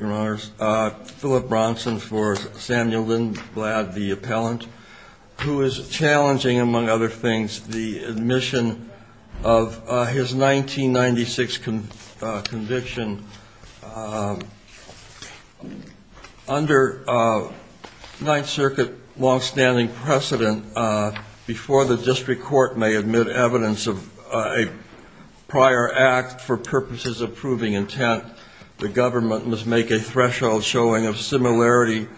Your Honor, Philip Bronson for Samuel Lindblad, the appellant, who is challenging, among other things, the admission of his 1996 conviction under Ninth Circuit long-standing precedent before the district court may admit evidence of a prior act for purposes of proving intent. The government must make a threshold showing of similarity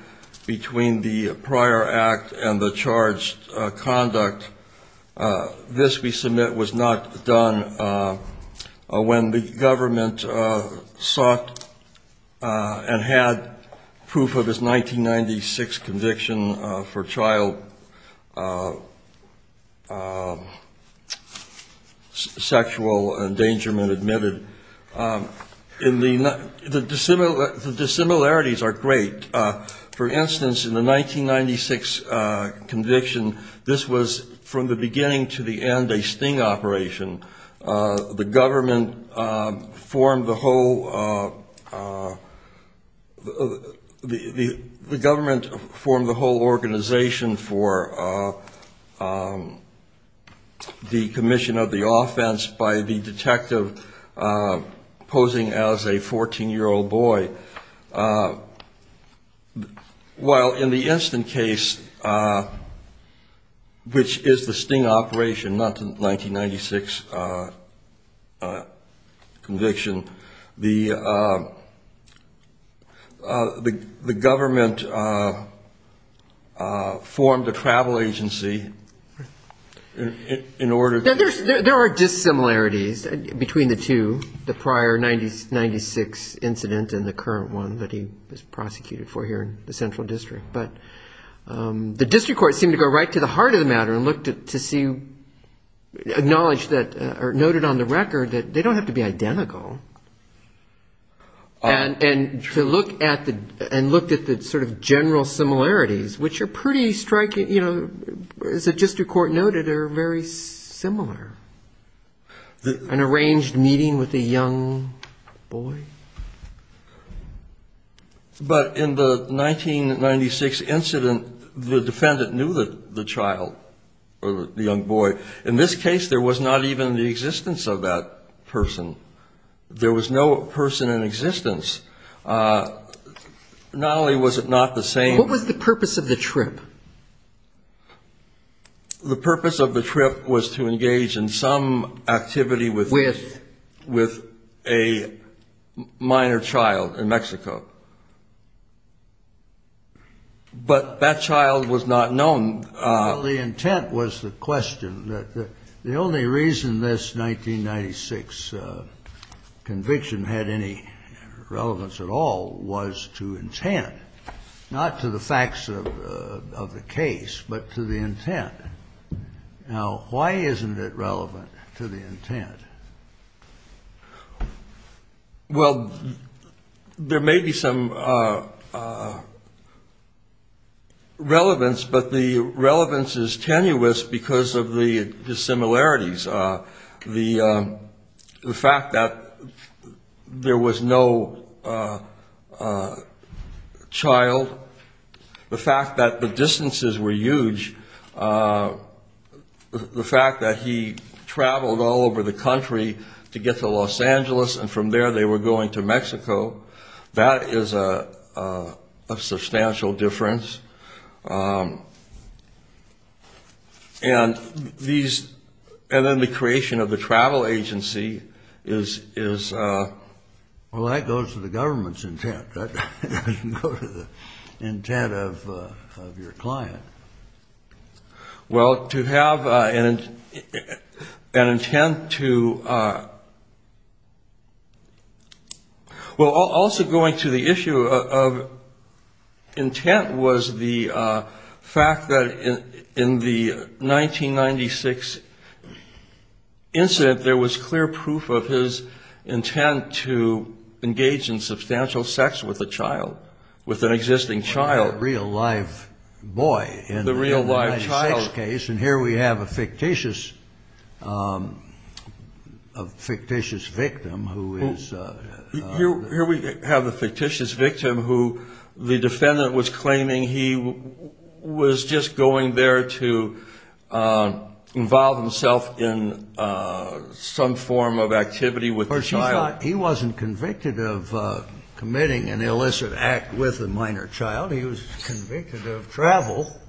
between the prior act and the charged conduct. This we submit was not done when the government sought and had proof of his 1996 conviction for child sexual endangerment admitted. The dissimilarities are great. For instance, in the 1996 conviction, this was from the beginning to the end a sting operation. The government formed the whole organization for the commission of the offense by the detective posing as a 14-year-old boy. So while in the instant case, which is the sting operation, not the 1996 conviction, the government formed a travel agency in order to – The district court seemed to go right to the heart of the matter and looked to see – acknowledge that – or noted on the record that they don't have to be identical. And to look at the – and looked at the sort of general similarities, which are pretty striking, you know, as the district court noted, are very similar. An arranged meeting with a young boy? But in the 1996 incident, the defendant knew the child or the young boy. In this case, there was not even the existence of that person. There was no person in existence. Not only was it not the same – What was the purpose of the trip? The purpose of the trip was to engage in some activity with – With? With a minor child in Mexico. But that child was not known. Well, the intent was the question. The only reason this 1996 conviction had any relevance at all was to intent, not to the facts of the case, but to the intent. Now, why isn't it relevant to the intent? Well, there may be some relevance, but the relevance is tenuous because of the dissimilarities. The fact that there was no child, the fact that the distances were huge, the fact that he traveled all over the country to get to Los Angeles, and from there they were going to Mexico, that is a substantial difference. And these – and then the creation of the travel agency is – Well, that goes to the government's intent. That doesn't go to the intent of your client. Well, to have an intent to – Well, also going to the issue of intent was the fact that in the 1996 incident there was clear proof of his intent to engage in substantial sex with a child, with an existing child. The real live boy in the 1996 case, and here we have a fictitious victim who is – Here we have a fictitious victim who the defendant was claiming he was just going there to involve himself in some form of activity with the child. In other words, he thought he wasn't convicted of committing an illicit act with a minor child. He was convicted of travel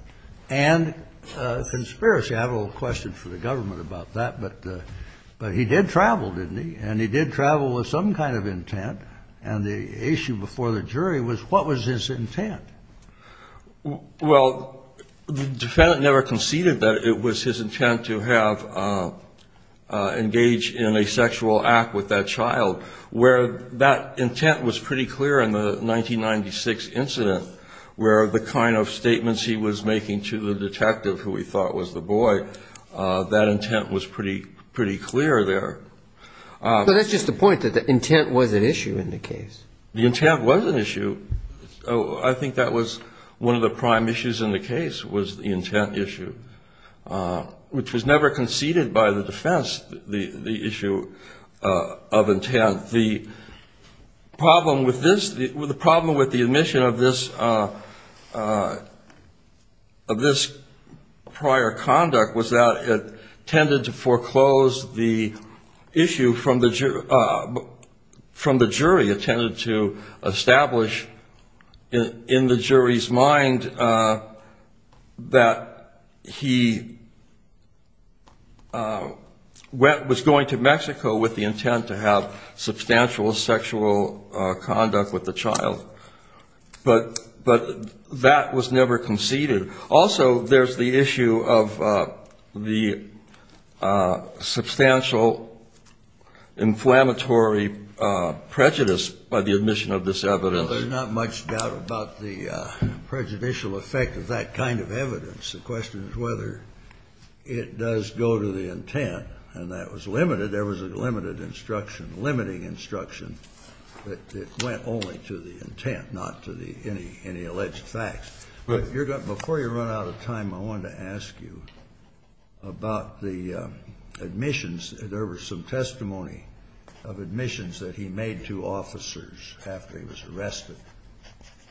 and conspiracy. I have a question for the government about that, but he did travel, didn't he? And he did travel with some kind of intent, and the issue before the jury was what was his intent? Well, the defendant never conceded that it was his intent to have – engage in a sexual act with that child, where that intent was pretty clear in the 1996 incident, where the kind of statements he was making to the detective, who he thought was the boy, that intent was pretty clear there. But that's just the point, that the intent was at issue in the case. The intent was an issue. I think that was one of the prime issues in the case was the intent issue, which was never conceded by the defense, the issue of intent. The problem with this – the problem with the admission of this prior conduct was that it tended to foreclose the issue from the jury. It tended to establish in the jury's mind that he was going to Mexico with the intent to have substantial sexual conduct with the child. But that was never conceded. Also, there's the issue of the substantial inflammatory prejudice by the admission of this evidence. Well, there's not much doubt about the prejudicial effect of that kind of evidence. The question is whether it does go to the intent, and that was limited. There was a limited instruction, limiting instruction that it went only to the intent, not to the – any alleged facts. Before you run out of time, I wanted to ask you about the admissions. There was some testimony of admissions that he made to officers after he was arrested.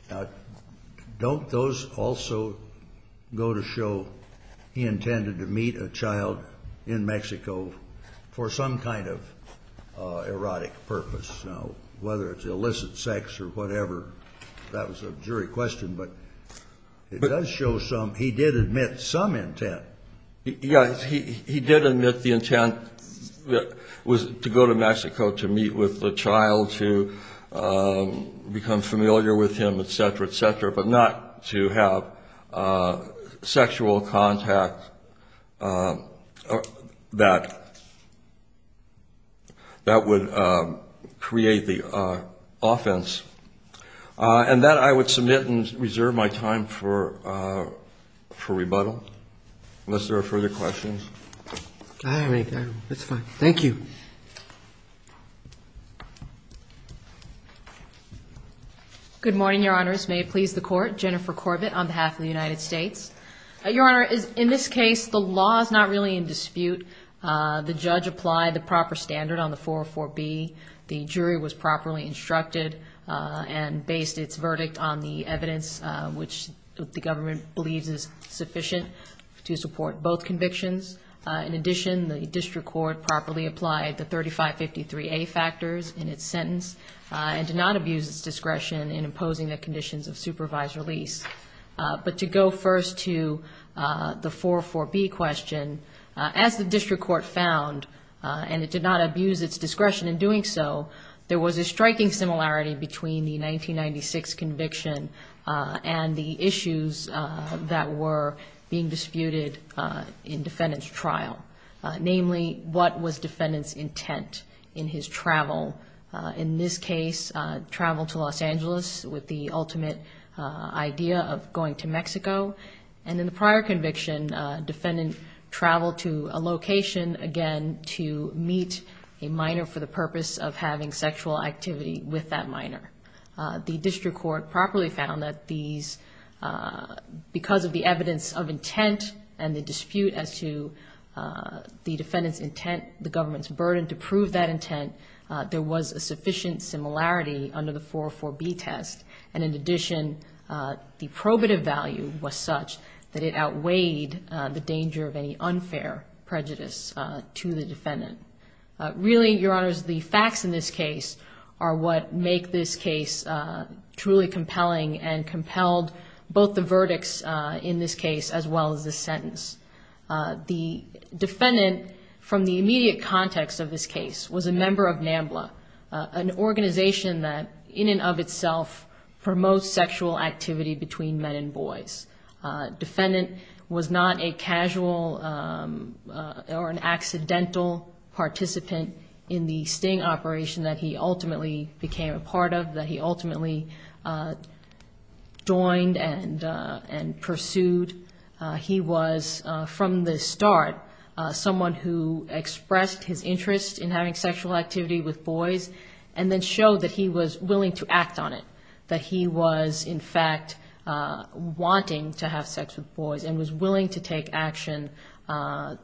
Now, don't those also go to show he intended to meet a child in Mexico for some kind of erotic purpose? Now, whether it's illicit sex or whatever, that was a jury question, but it does show some – he did admit some intent. He did admit the intent was to go to Mexico to meet with the child, to become familiar with him, et cetera, et cetera, but not to have sexual contact that would create the offense. And that I would submit and reserve my time for rebuttal, unless there are further questions. I don't have any time. That's fine. Thank you. Good morning, Your Honors. May it please the Court. Jennifer Corbett on behalf of the United States. Your Honor, in this case, the law is not really in dispute. The judge applied the proper standard on the 404B. The jury was properly instructed and based its verdict on the evidence, which the government believes is sufficient to support both convictions. In addition, the district court properly applied the 3553A factors in its sentence and did not abuse its discretion in imposing the conditions of supervised release. But to go first to the 404B question, as the district court found, and it did not abuse its discretion in doing so, there was a striking similarity between the 1996 conviction and the issues that were being disputed in defendant's trial. Namely, what was defendant's intent in his travel? In this case, travel to Los Angeles with the ultimate idea of going to Mexico. And in the prior conviction, defendant traveled to a location, again, to meet a minor for the purpose of having sexual activity with that minor. The district court properly found that these, because of the evidence of intent and the dispute as to the defendant's intent, the government's burden to prove that intent, there was a sufficient similarity under the 404B test. And in addition, the probative value was such that it outweighed the danger of any unfair prejudice to the defendant. Really, Your Honors, the facts in this case are what make this case truly compelling and compelled both the verdicts in this case as well as the sentence. The defendant, from the immediate context of this case, was a member of NAMBLA, an organization that, in and of itself, promotes sexual activity between men and boys. Defendant was not a casual or an accidental participant in the sting operation that he ultimately became a part of, that he ultimately joined and pursued. He was, from the start, someone who expressed his interest in having sexual activity with boys and then showed that he was willing to act on it, that he was, in fact, wanting to have sex with boys and was willing to take action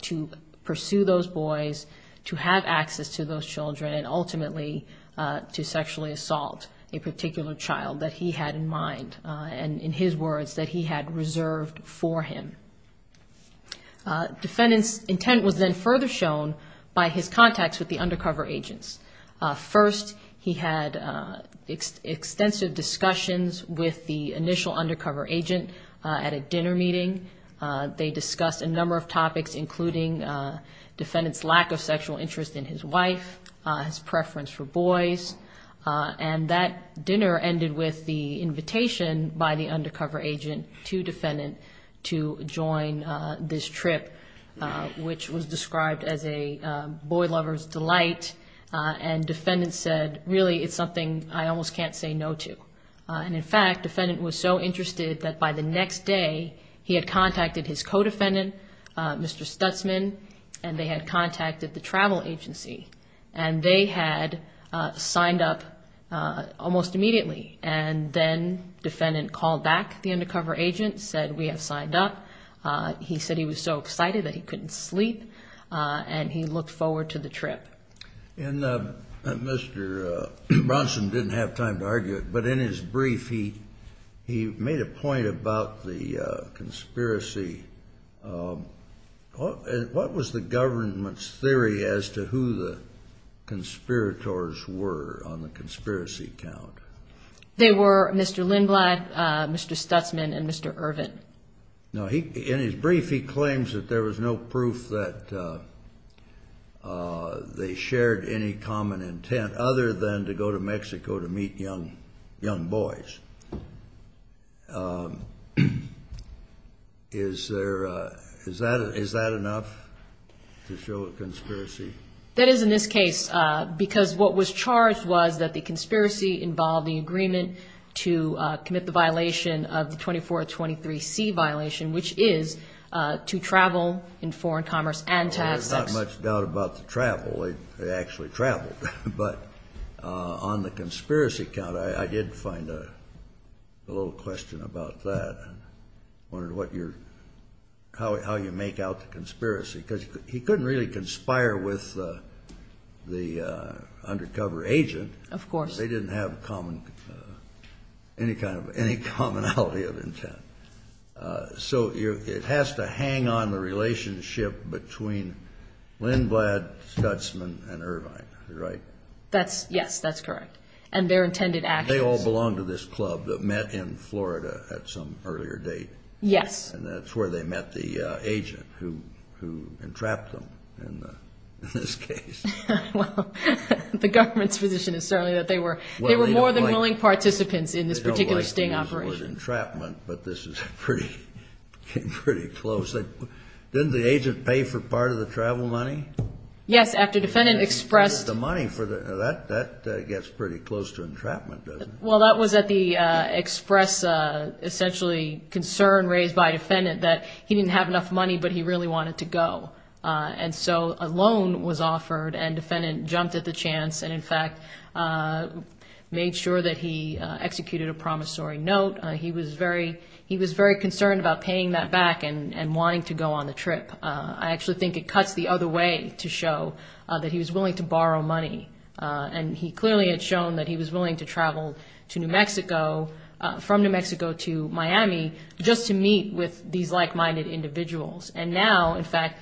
to pursue those boys, to have access to those children, and ultimately to sexually assault a particular child that he had in mind and, in his words, that he had reserved for him. Defendant's intent was then further shown by his contacts with the undercover agents. First, he had extensive discussions with the initial undercover agent at a dinner meeting. They discussed a number of topics, including defendant's lack of sexual interest in his wife, his preference for boys, and that dinner ended with the invitation by the undercover agent to defendant to join this trip, which was described as a boy lover's delight, and defendant said, really, it's something I almost can't say no to. And, in fact, defendant was so interested that, by the next day, he had contacted his co-defendant, Mr. Stutzman, and they had contacted the travel agency, and they had signed up almost immediately. And then defendant called back the undercover agent, said, we have signed up. He said he was so excited that he couldn't sleep, and he looked forward to the trip. And Mr. Bronson didn't have time to argue it, but in his brief, he made a point about the conspiracy. What was the government's theory as to who the conspirators were on the conspiracy count? They were Mr. Lindblad, Mr. Stutzman, and Mr. Ervin. Now, in his brief, he claims that there was no proof that they shared any common intent, other than to go to Mexico to meet young boys. Is that enough to show a conspiracy? That is in this case, because what was charged was that the conspiracy involved the agreement to commit the violation of the 2423C violation, which is to travel in foreign commerce and to have sex. I don't have much doubt about the travel. They actually traveled. But on the conspiracy count, I did find a little question about that. I wondered how you make out the conspiracy, because he couldn't really conspire with the undercover agent. Of course. They didn't have any commonality of intent. So it has to hang on the relationship between Lindblad, Stutzman, and Ervin, right? Yes, that's correct. And their intended actions. They all belonged to this club that met in Florida at some earlier date. Yes. And that's where they met the agent who entrapped them in this case. Well, the government's position is certainly that they were more than willing participants in this particular sting operation. They don't like the word entrapment, but this is pretty close. Didn't the agent pay for part of the travel money? Yes, after defendant expressed the money. That gets pretty close to entrapment, doesn't it? Well, that was at the express essentially concern raised by defendant that he didn't have enough money, but he really wanted to go. And so a loan was offered, and defendant jumped at the chance and, in fact, made sure that he executed a promissory note. He was very concerned about paying that back and wanting to go on the trip. I actually think it cuts the other way to show that he was willing to borrow money. And he clearly had shown that he was willing to travel to New Mexico, from New Mexico to Miami, just to meet with these like-minded individuals. And now, in fact,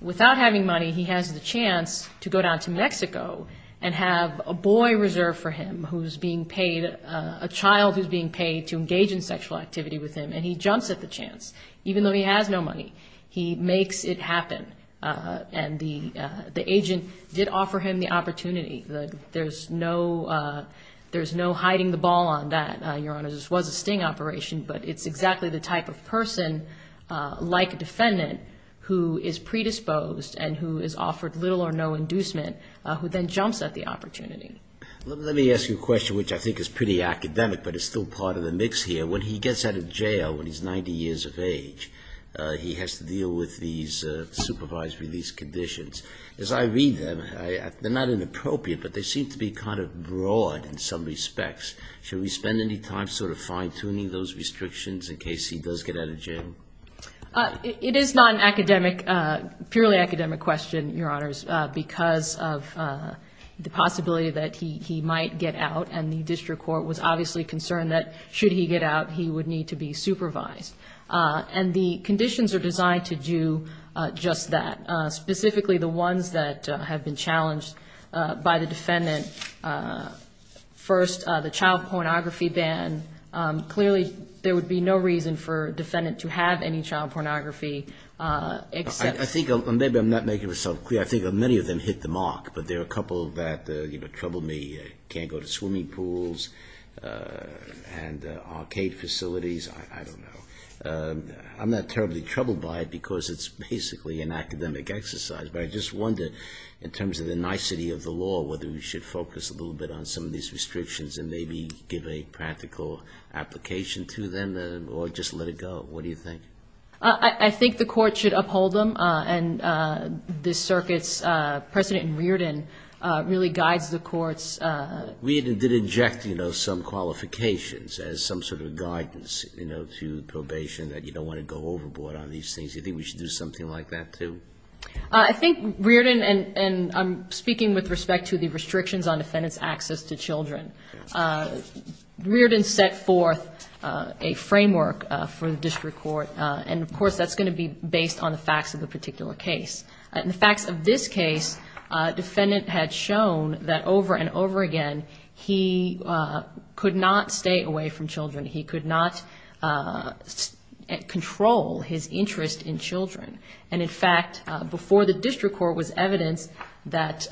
without having money, he has the chance to go down to Mexico and have a boy reserved for him who's being paid, a child who's being paid to engage in sexual activity with him, and he jumps at the chance. Even though he has no money, he makes it happen. And the agent did offer him the opportunity. There's no hiding the ball on that, Your Honor. This was a sting operation, but it's exactly the type of person like a defendant who is predisposed and who is offered little or no inducement who then jumps at the opportunity. Let me ask you a question which I think is pretty academic, but it's still part of the mix here. When he gets out of jail when he's 90 years of age, he has to deal with these supervised release conditions. As I read them, they're not inappropriate, but they seem to be kind of broad in some respects. Should we spend any time sort of fine-tuning those restrictions in case he does get out of jail? It is not an academic, purely academic question, Your Honors, because of the possibility that he might get out. And the district court was obviously concerned that should he get out, he would need to be supervised. And the conditions are designed to do just that, specifically the ones that have been challenged by the defendant. First, the child pornography ban. Clearly, there would be no reason for a defendant to have any child pornography except... I think, and maybe I'm not making myself clear, I think many of them hit the mark, but there are a couple that trouble me, can't go to swimming pools and arcade facilities. I don't know. I'm not terribly troubled by it, because it's basically an academic exercise. But I just wonder, in terms of the nicety of the law, whether we should focus a little bit on some of these restrictions and maybe give a practical application to them or just let it go. What do you think? I think the court should uphold them. And the circuit's precedent in Reardon really guides the court's... Reardon did inject, you know, some qualifications as some sort of guidance, you know, to probation that you don't want to go overboard on these things. Do you think we should do something like that, too? I think Reardon, and I'm speaking with respect to the restrictions on defendant's access to children, Reardon set forth a framework for the district court, and, of course, that's going to be based on the facts of the particular case. In the facts of this case, defendant had shown that over and over again he could not stay away from children. He could not control his interest in children. And, in fact, before the district court was evidence that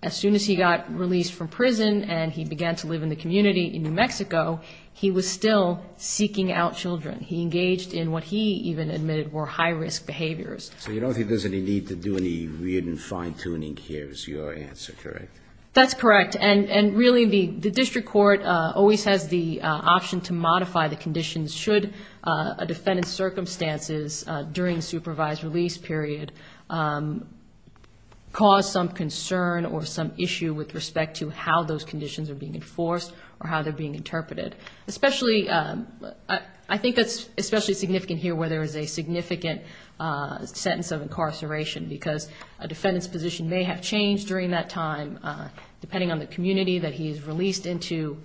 as soon as he got released from prison and began to live in the community in New Mexico, he was still seeking out children. He engaged in what he even admitted were high-risk behaviors. So you don't think there's any need to do any Reardon fine-tuning here is your answer, correct? That's correct. And really the district court always has the option to modify the conditions should a defendant's circumstances during supervised release period cause some concern or some issue with respect to how those conditions are being enforced or how they're being interpreted. I think that's especially significant here where there is a significant sentence of incarceration because a defendant's position may have changed during that time, depending on the community that he is released into.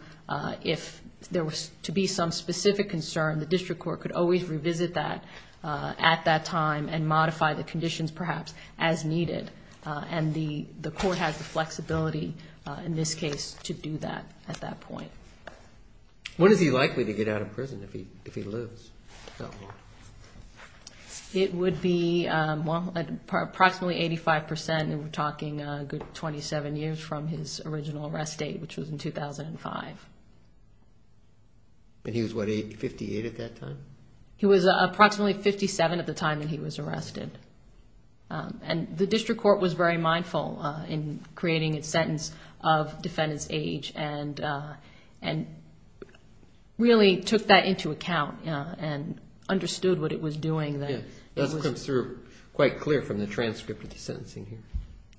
If there was to be some specific concern, the district court could always revisit that at that time and modify the conditions perhaps as needed. And the court has the flexibility in this case to do that at that point. When is he likely to get out of prison if he lives? It would be approximately 85 percent. And we're talking a good 27 years from his original arrest date, which was in 2005. And he was what, 58 at that time? He was approximately 57 at the time that he was arrested. And the district court was very mindful in creating a sentence of defendant's age and really took that into account and understood what it was doing. That's quite clear from the transcript of the sentencing here.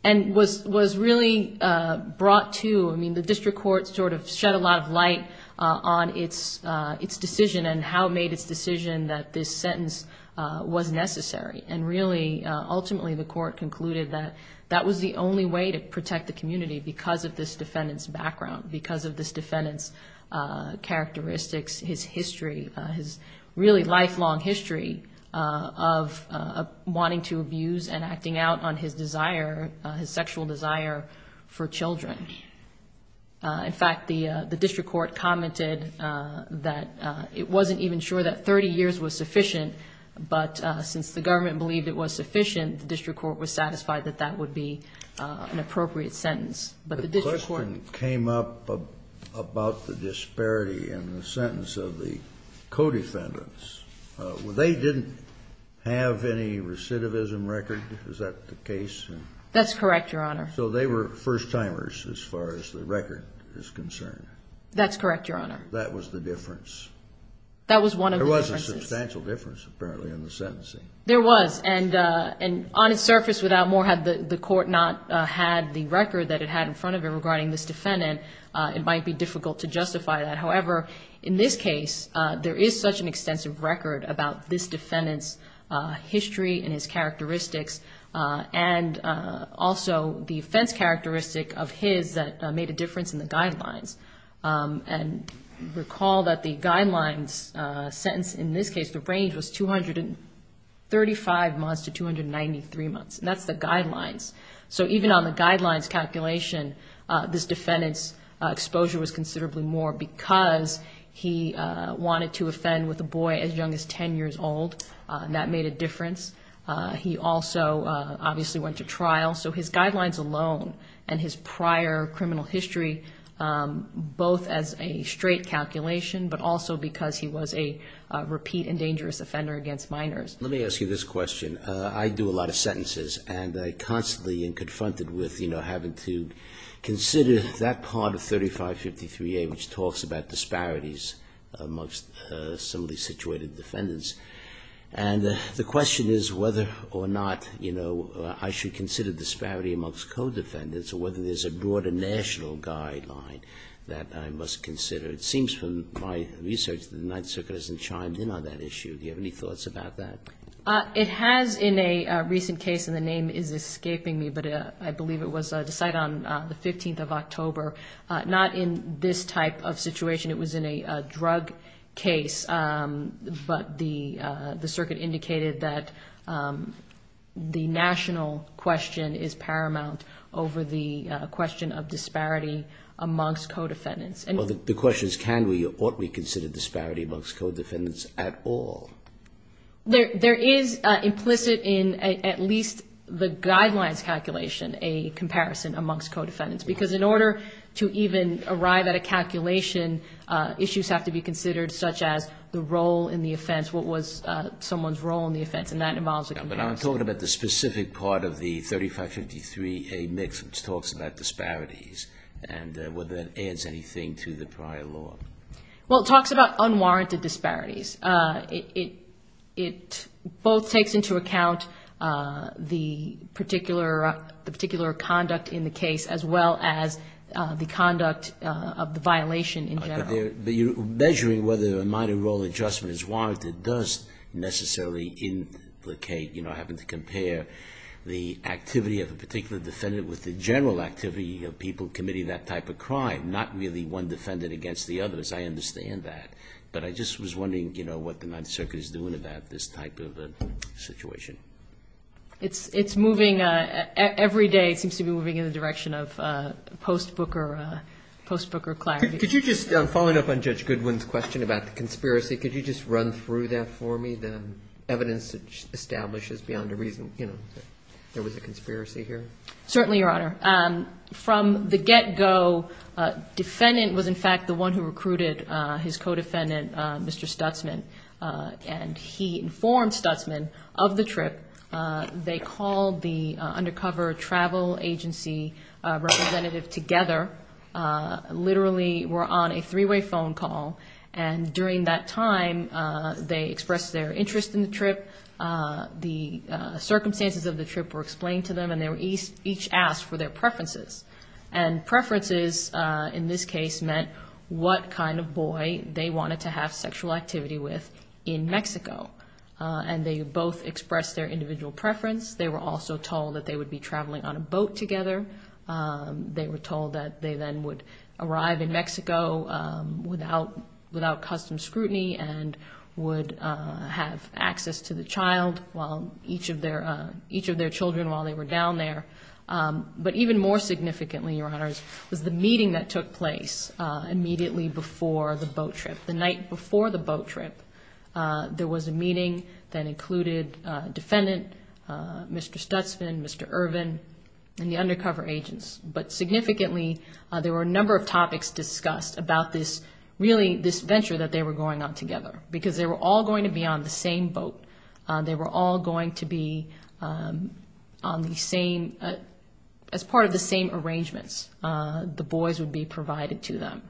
And was really brought to, I mean, the district court sort of shed a lot of light on its decision and how it made its decision that this sentence was necessary. And really, ultimately the court concluded that that was the only way to protect the community because of this defendant's background, because of this defendant's characteristics, his history, his really lifelong history of wanting to abuse and acting out on his desire, his sexual desire for children. In fact, the district court commented that it wasn't even sure that 30 years was sufficient, but since the government believed it was sufficient, the district court was satisfied that that would be an appropriate sentence. The question came up about the disparity in the sentence of the co-defendants. They didn't have any recidivism record, is that the case? That's correct, Your Honor. So they were first-timers as far as the record is concerned. That's correct, Your Honor. That was the difference. That was one of the differences. There was a substantial difference, apparently, in the sentencing. There was, and on its surface, without more, had the court not had the record that it had in front of it regarding this defendant, it might be difficult to justify that. However, in this case, there is such an extensive record about this defendant's history and his characteristics, and also the offense characteristic of his that made a difference in the guidelines. And recall that the guidelines sentence in this case, the range was 235 months to 293 months, and that's the guidelines. So even on the guidelines calculation, this defendant's exposure was considerably more because he wanted to offend with a boy as young as 10 years old, and that made a difference. He also obviously went to trial. Both as a straight calculation, but also because he was a repeat and dangerous offender against minors. Let me ask you this question. I do a lot of sentences, and I constantly am confronted with having to consider that part of 3553A, which talks about disparities amongst similarly situated defendants. And the question is whether or not I should consider disparity amongst co-defendants or whether there's a broader national guideline that I must consider. It seems from my research that the Ninth Circuit hasn't chimed in on that issue. Do you have any thoughts about that? It has in a recent case, and the name is escaping me, but I believe it was decided on the 15th of October, not in this type of situation. It was in a drug case, but the circuit indicated that the national question is paramount over the question of disparity amongst co-defendants. The question is can we or ought we consider disparity amongst co-defendants at all? There is implicit in at least the guidelines calculation a comparison amongst co-defendants, because in order to even arrive at a calculation, issues have to be considered, such as the role in the offense, what was someone's role in the offense, and that involves a comparison. But I'm talking about the specific part of the 3553A mix, which talks about disparities and whether that adds anything to the prior law. Well, it talks about unwarranted disparities. It both takes into account the particular conduct in the case, as well as the conduct of the violation in general. Measuring whether a minor role adjustment is warranted does necessarily implicate having to compare the activity of a particular defendant with the general activity of people committing that type of crime, not really one defendant against the others. I understand that. But I just was wondering what the Ninth Circuit is doing about this type of situation. It's moving. Every day it seems to be moving in the direction of post-Booker clarity. Could you just, following up on Judge Goodwin's question about the conspiracy, could you just run through that for me, the evidence that establishes beyond a reason, you know, there was a conspiracy here? Certainly, Your Honor. From the get-go, defendant was, in fact, the one who recruited his co-defendant, Mr. Stutzman, and he informed Stutzman of the trip. They called the undercover travel agency representative together, literally were on a three-way phone call, and during that time they expressed their interest in the trip. The circumstances of the trip were explained to them, and they each asked for their preferences. And preferences, in this case, meant what kind of boy they wanted to have sexual activity with in Mexico. And they both expressed their individual preference. They were also told that they would be traveling on a boat together. They were told that they then would arrive in Mexico without custom scrutiny and would have access to the child while each of their children while they were down there. But even more significantly, Your Honors, was the meeting that took place immediately before the boat trip. The night before the boat trip, there was a meeting that included defendant, Mr. Stutzman, Mr. Irvin, and the undercover agents. But significantly, there were a number of topics discussed about this, really this venture that they were going on together because they were all going to be on the same boat. They were all going to be on the same, as part of the same arrangements. The boys would be provided to them.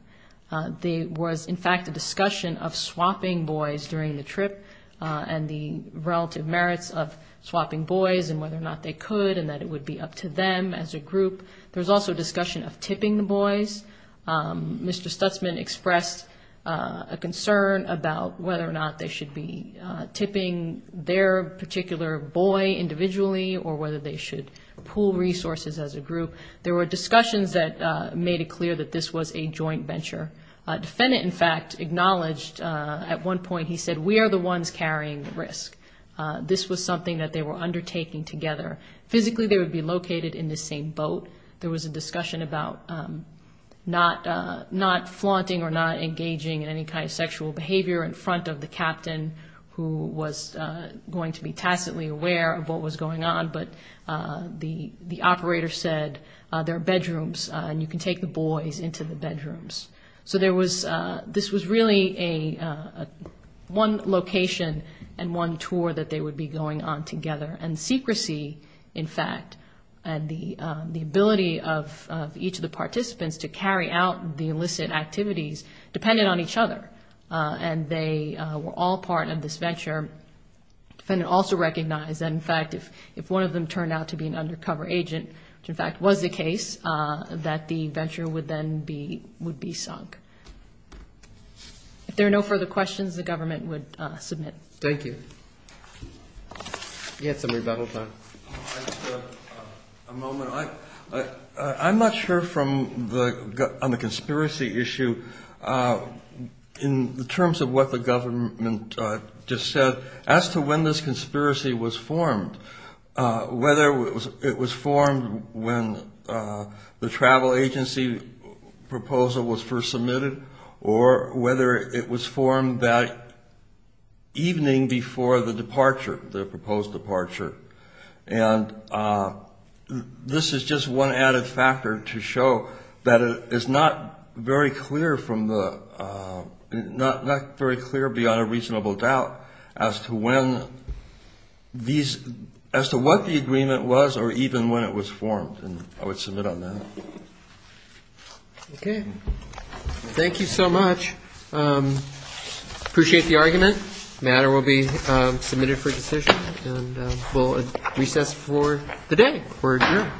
There was, in fact, a discussion of swapping boys during the trip and the relative merits of swapping boys and whether or not they could and that it would be up to them as a group. There was also a discussion of tipping the boys. Mr. Stutzman expressed a concern about whether or not they should be tipping their particular boy individually or whether they should pool resources as a group. There were discussions that made it clear that this was a joint venture. A defendant, in fact, acknowledged at one point, he said, we are the ones carrying the risk. This was something that they were undertaking together. Physically, they would be located in the same boat. There was a discussion about not flaunting or not engaging in any kind of sexual behavior in front of the captain who was going to be tacitly aware of what was going on. But the operator said, there are bedrooms and you can take the boys into the bedrooms. So this was really one location and one tour that they would be going on together. And secrecy, in fact, and the ability of each of the participants to carry out the illicit activities depended on each other. And they were all part of this venture. The defendant also recognized that, in fact, if one of them turned out to be an undercover agent, which in fact was the case, that the venture would then be sunk. If there are no further questions, the government would submit. Thank you. You had some rebuttal time. Just a moment. I'm not sure on the conspiracy issue, in terms of what the government just said, as to when this conspiracy was formed, whether it was formed when the travel agency proposal was first submitted or whether it was formed that evening before the departure, the proposed departure. And this is just one added factor to show that it is not very clear beyond a reasonable doubt as to what the agreement was or even when it was formed. And I would submit on that. Okay. Thank you so much. Appreciate the argument. The matter will be submitted for decision and we'll recess for the day. We're adjourned.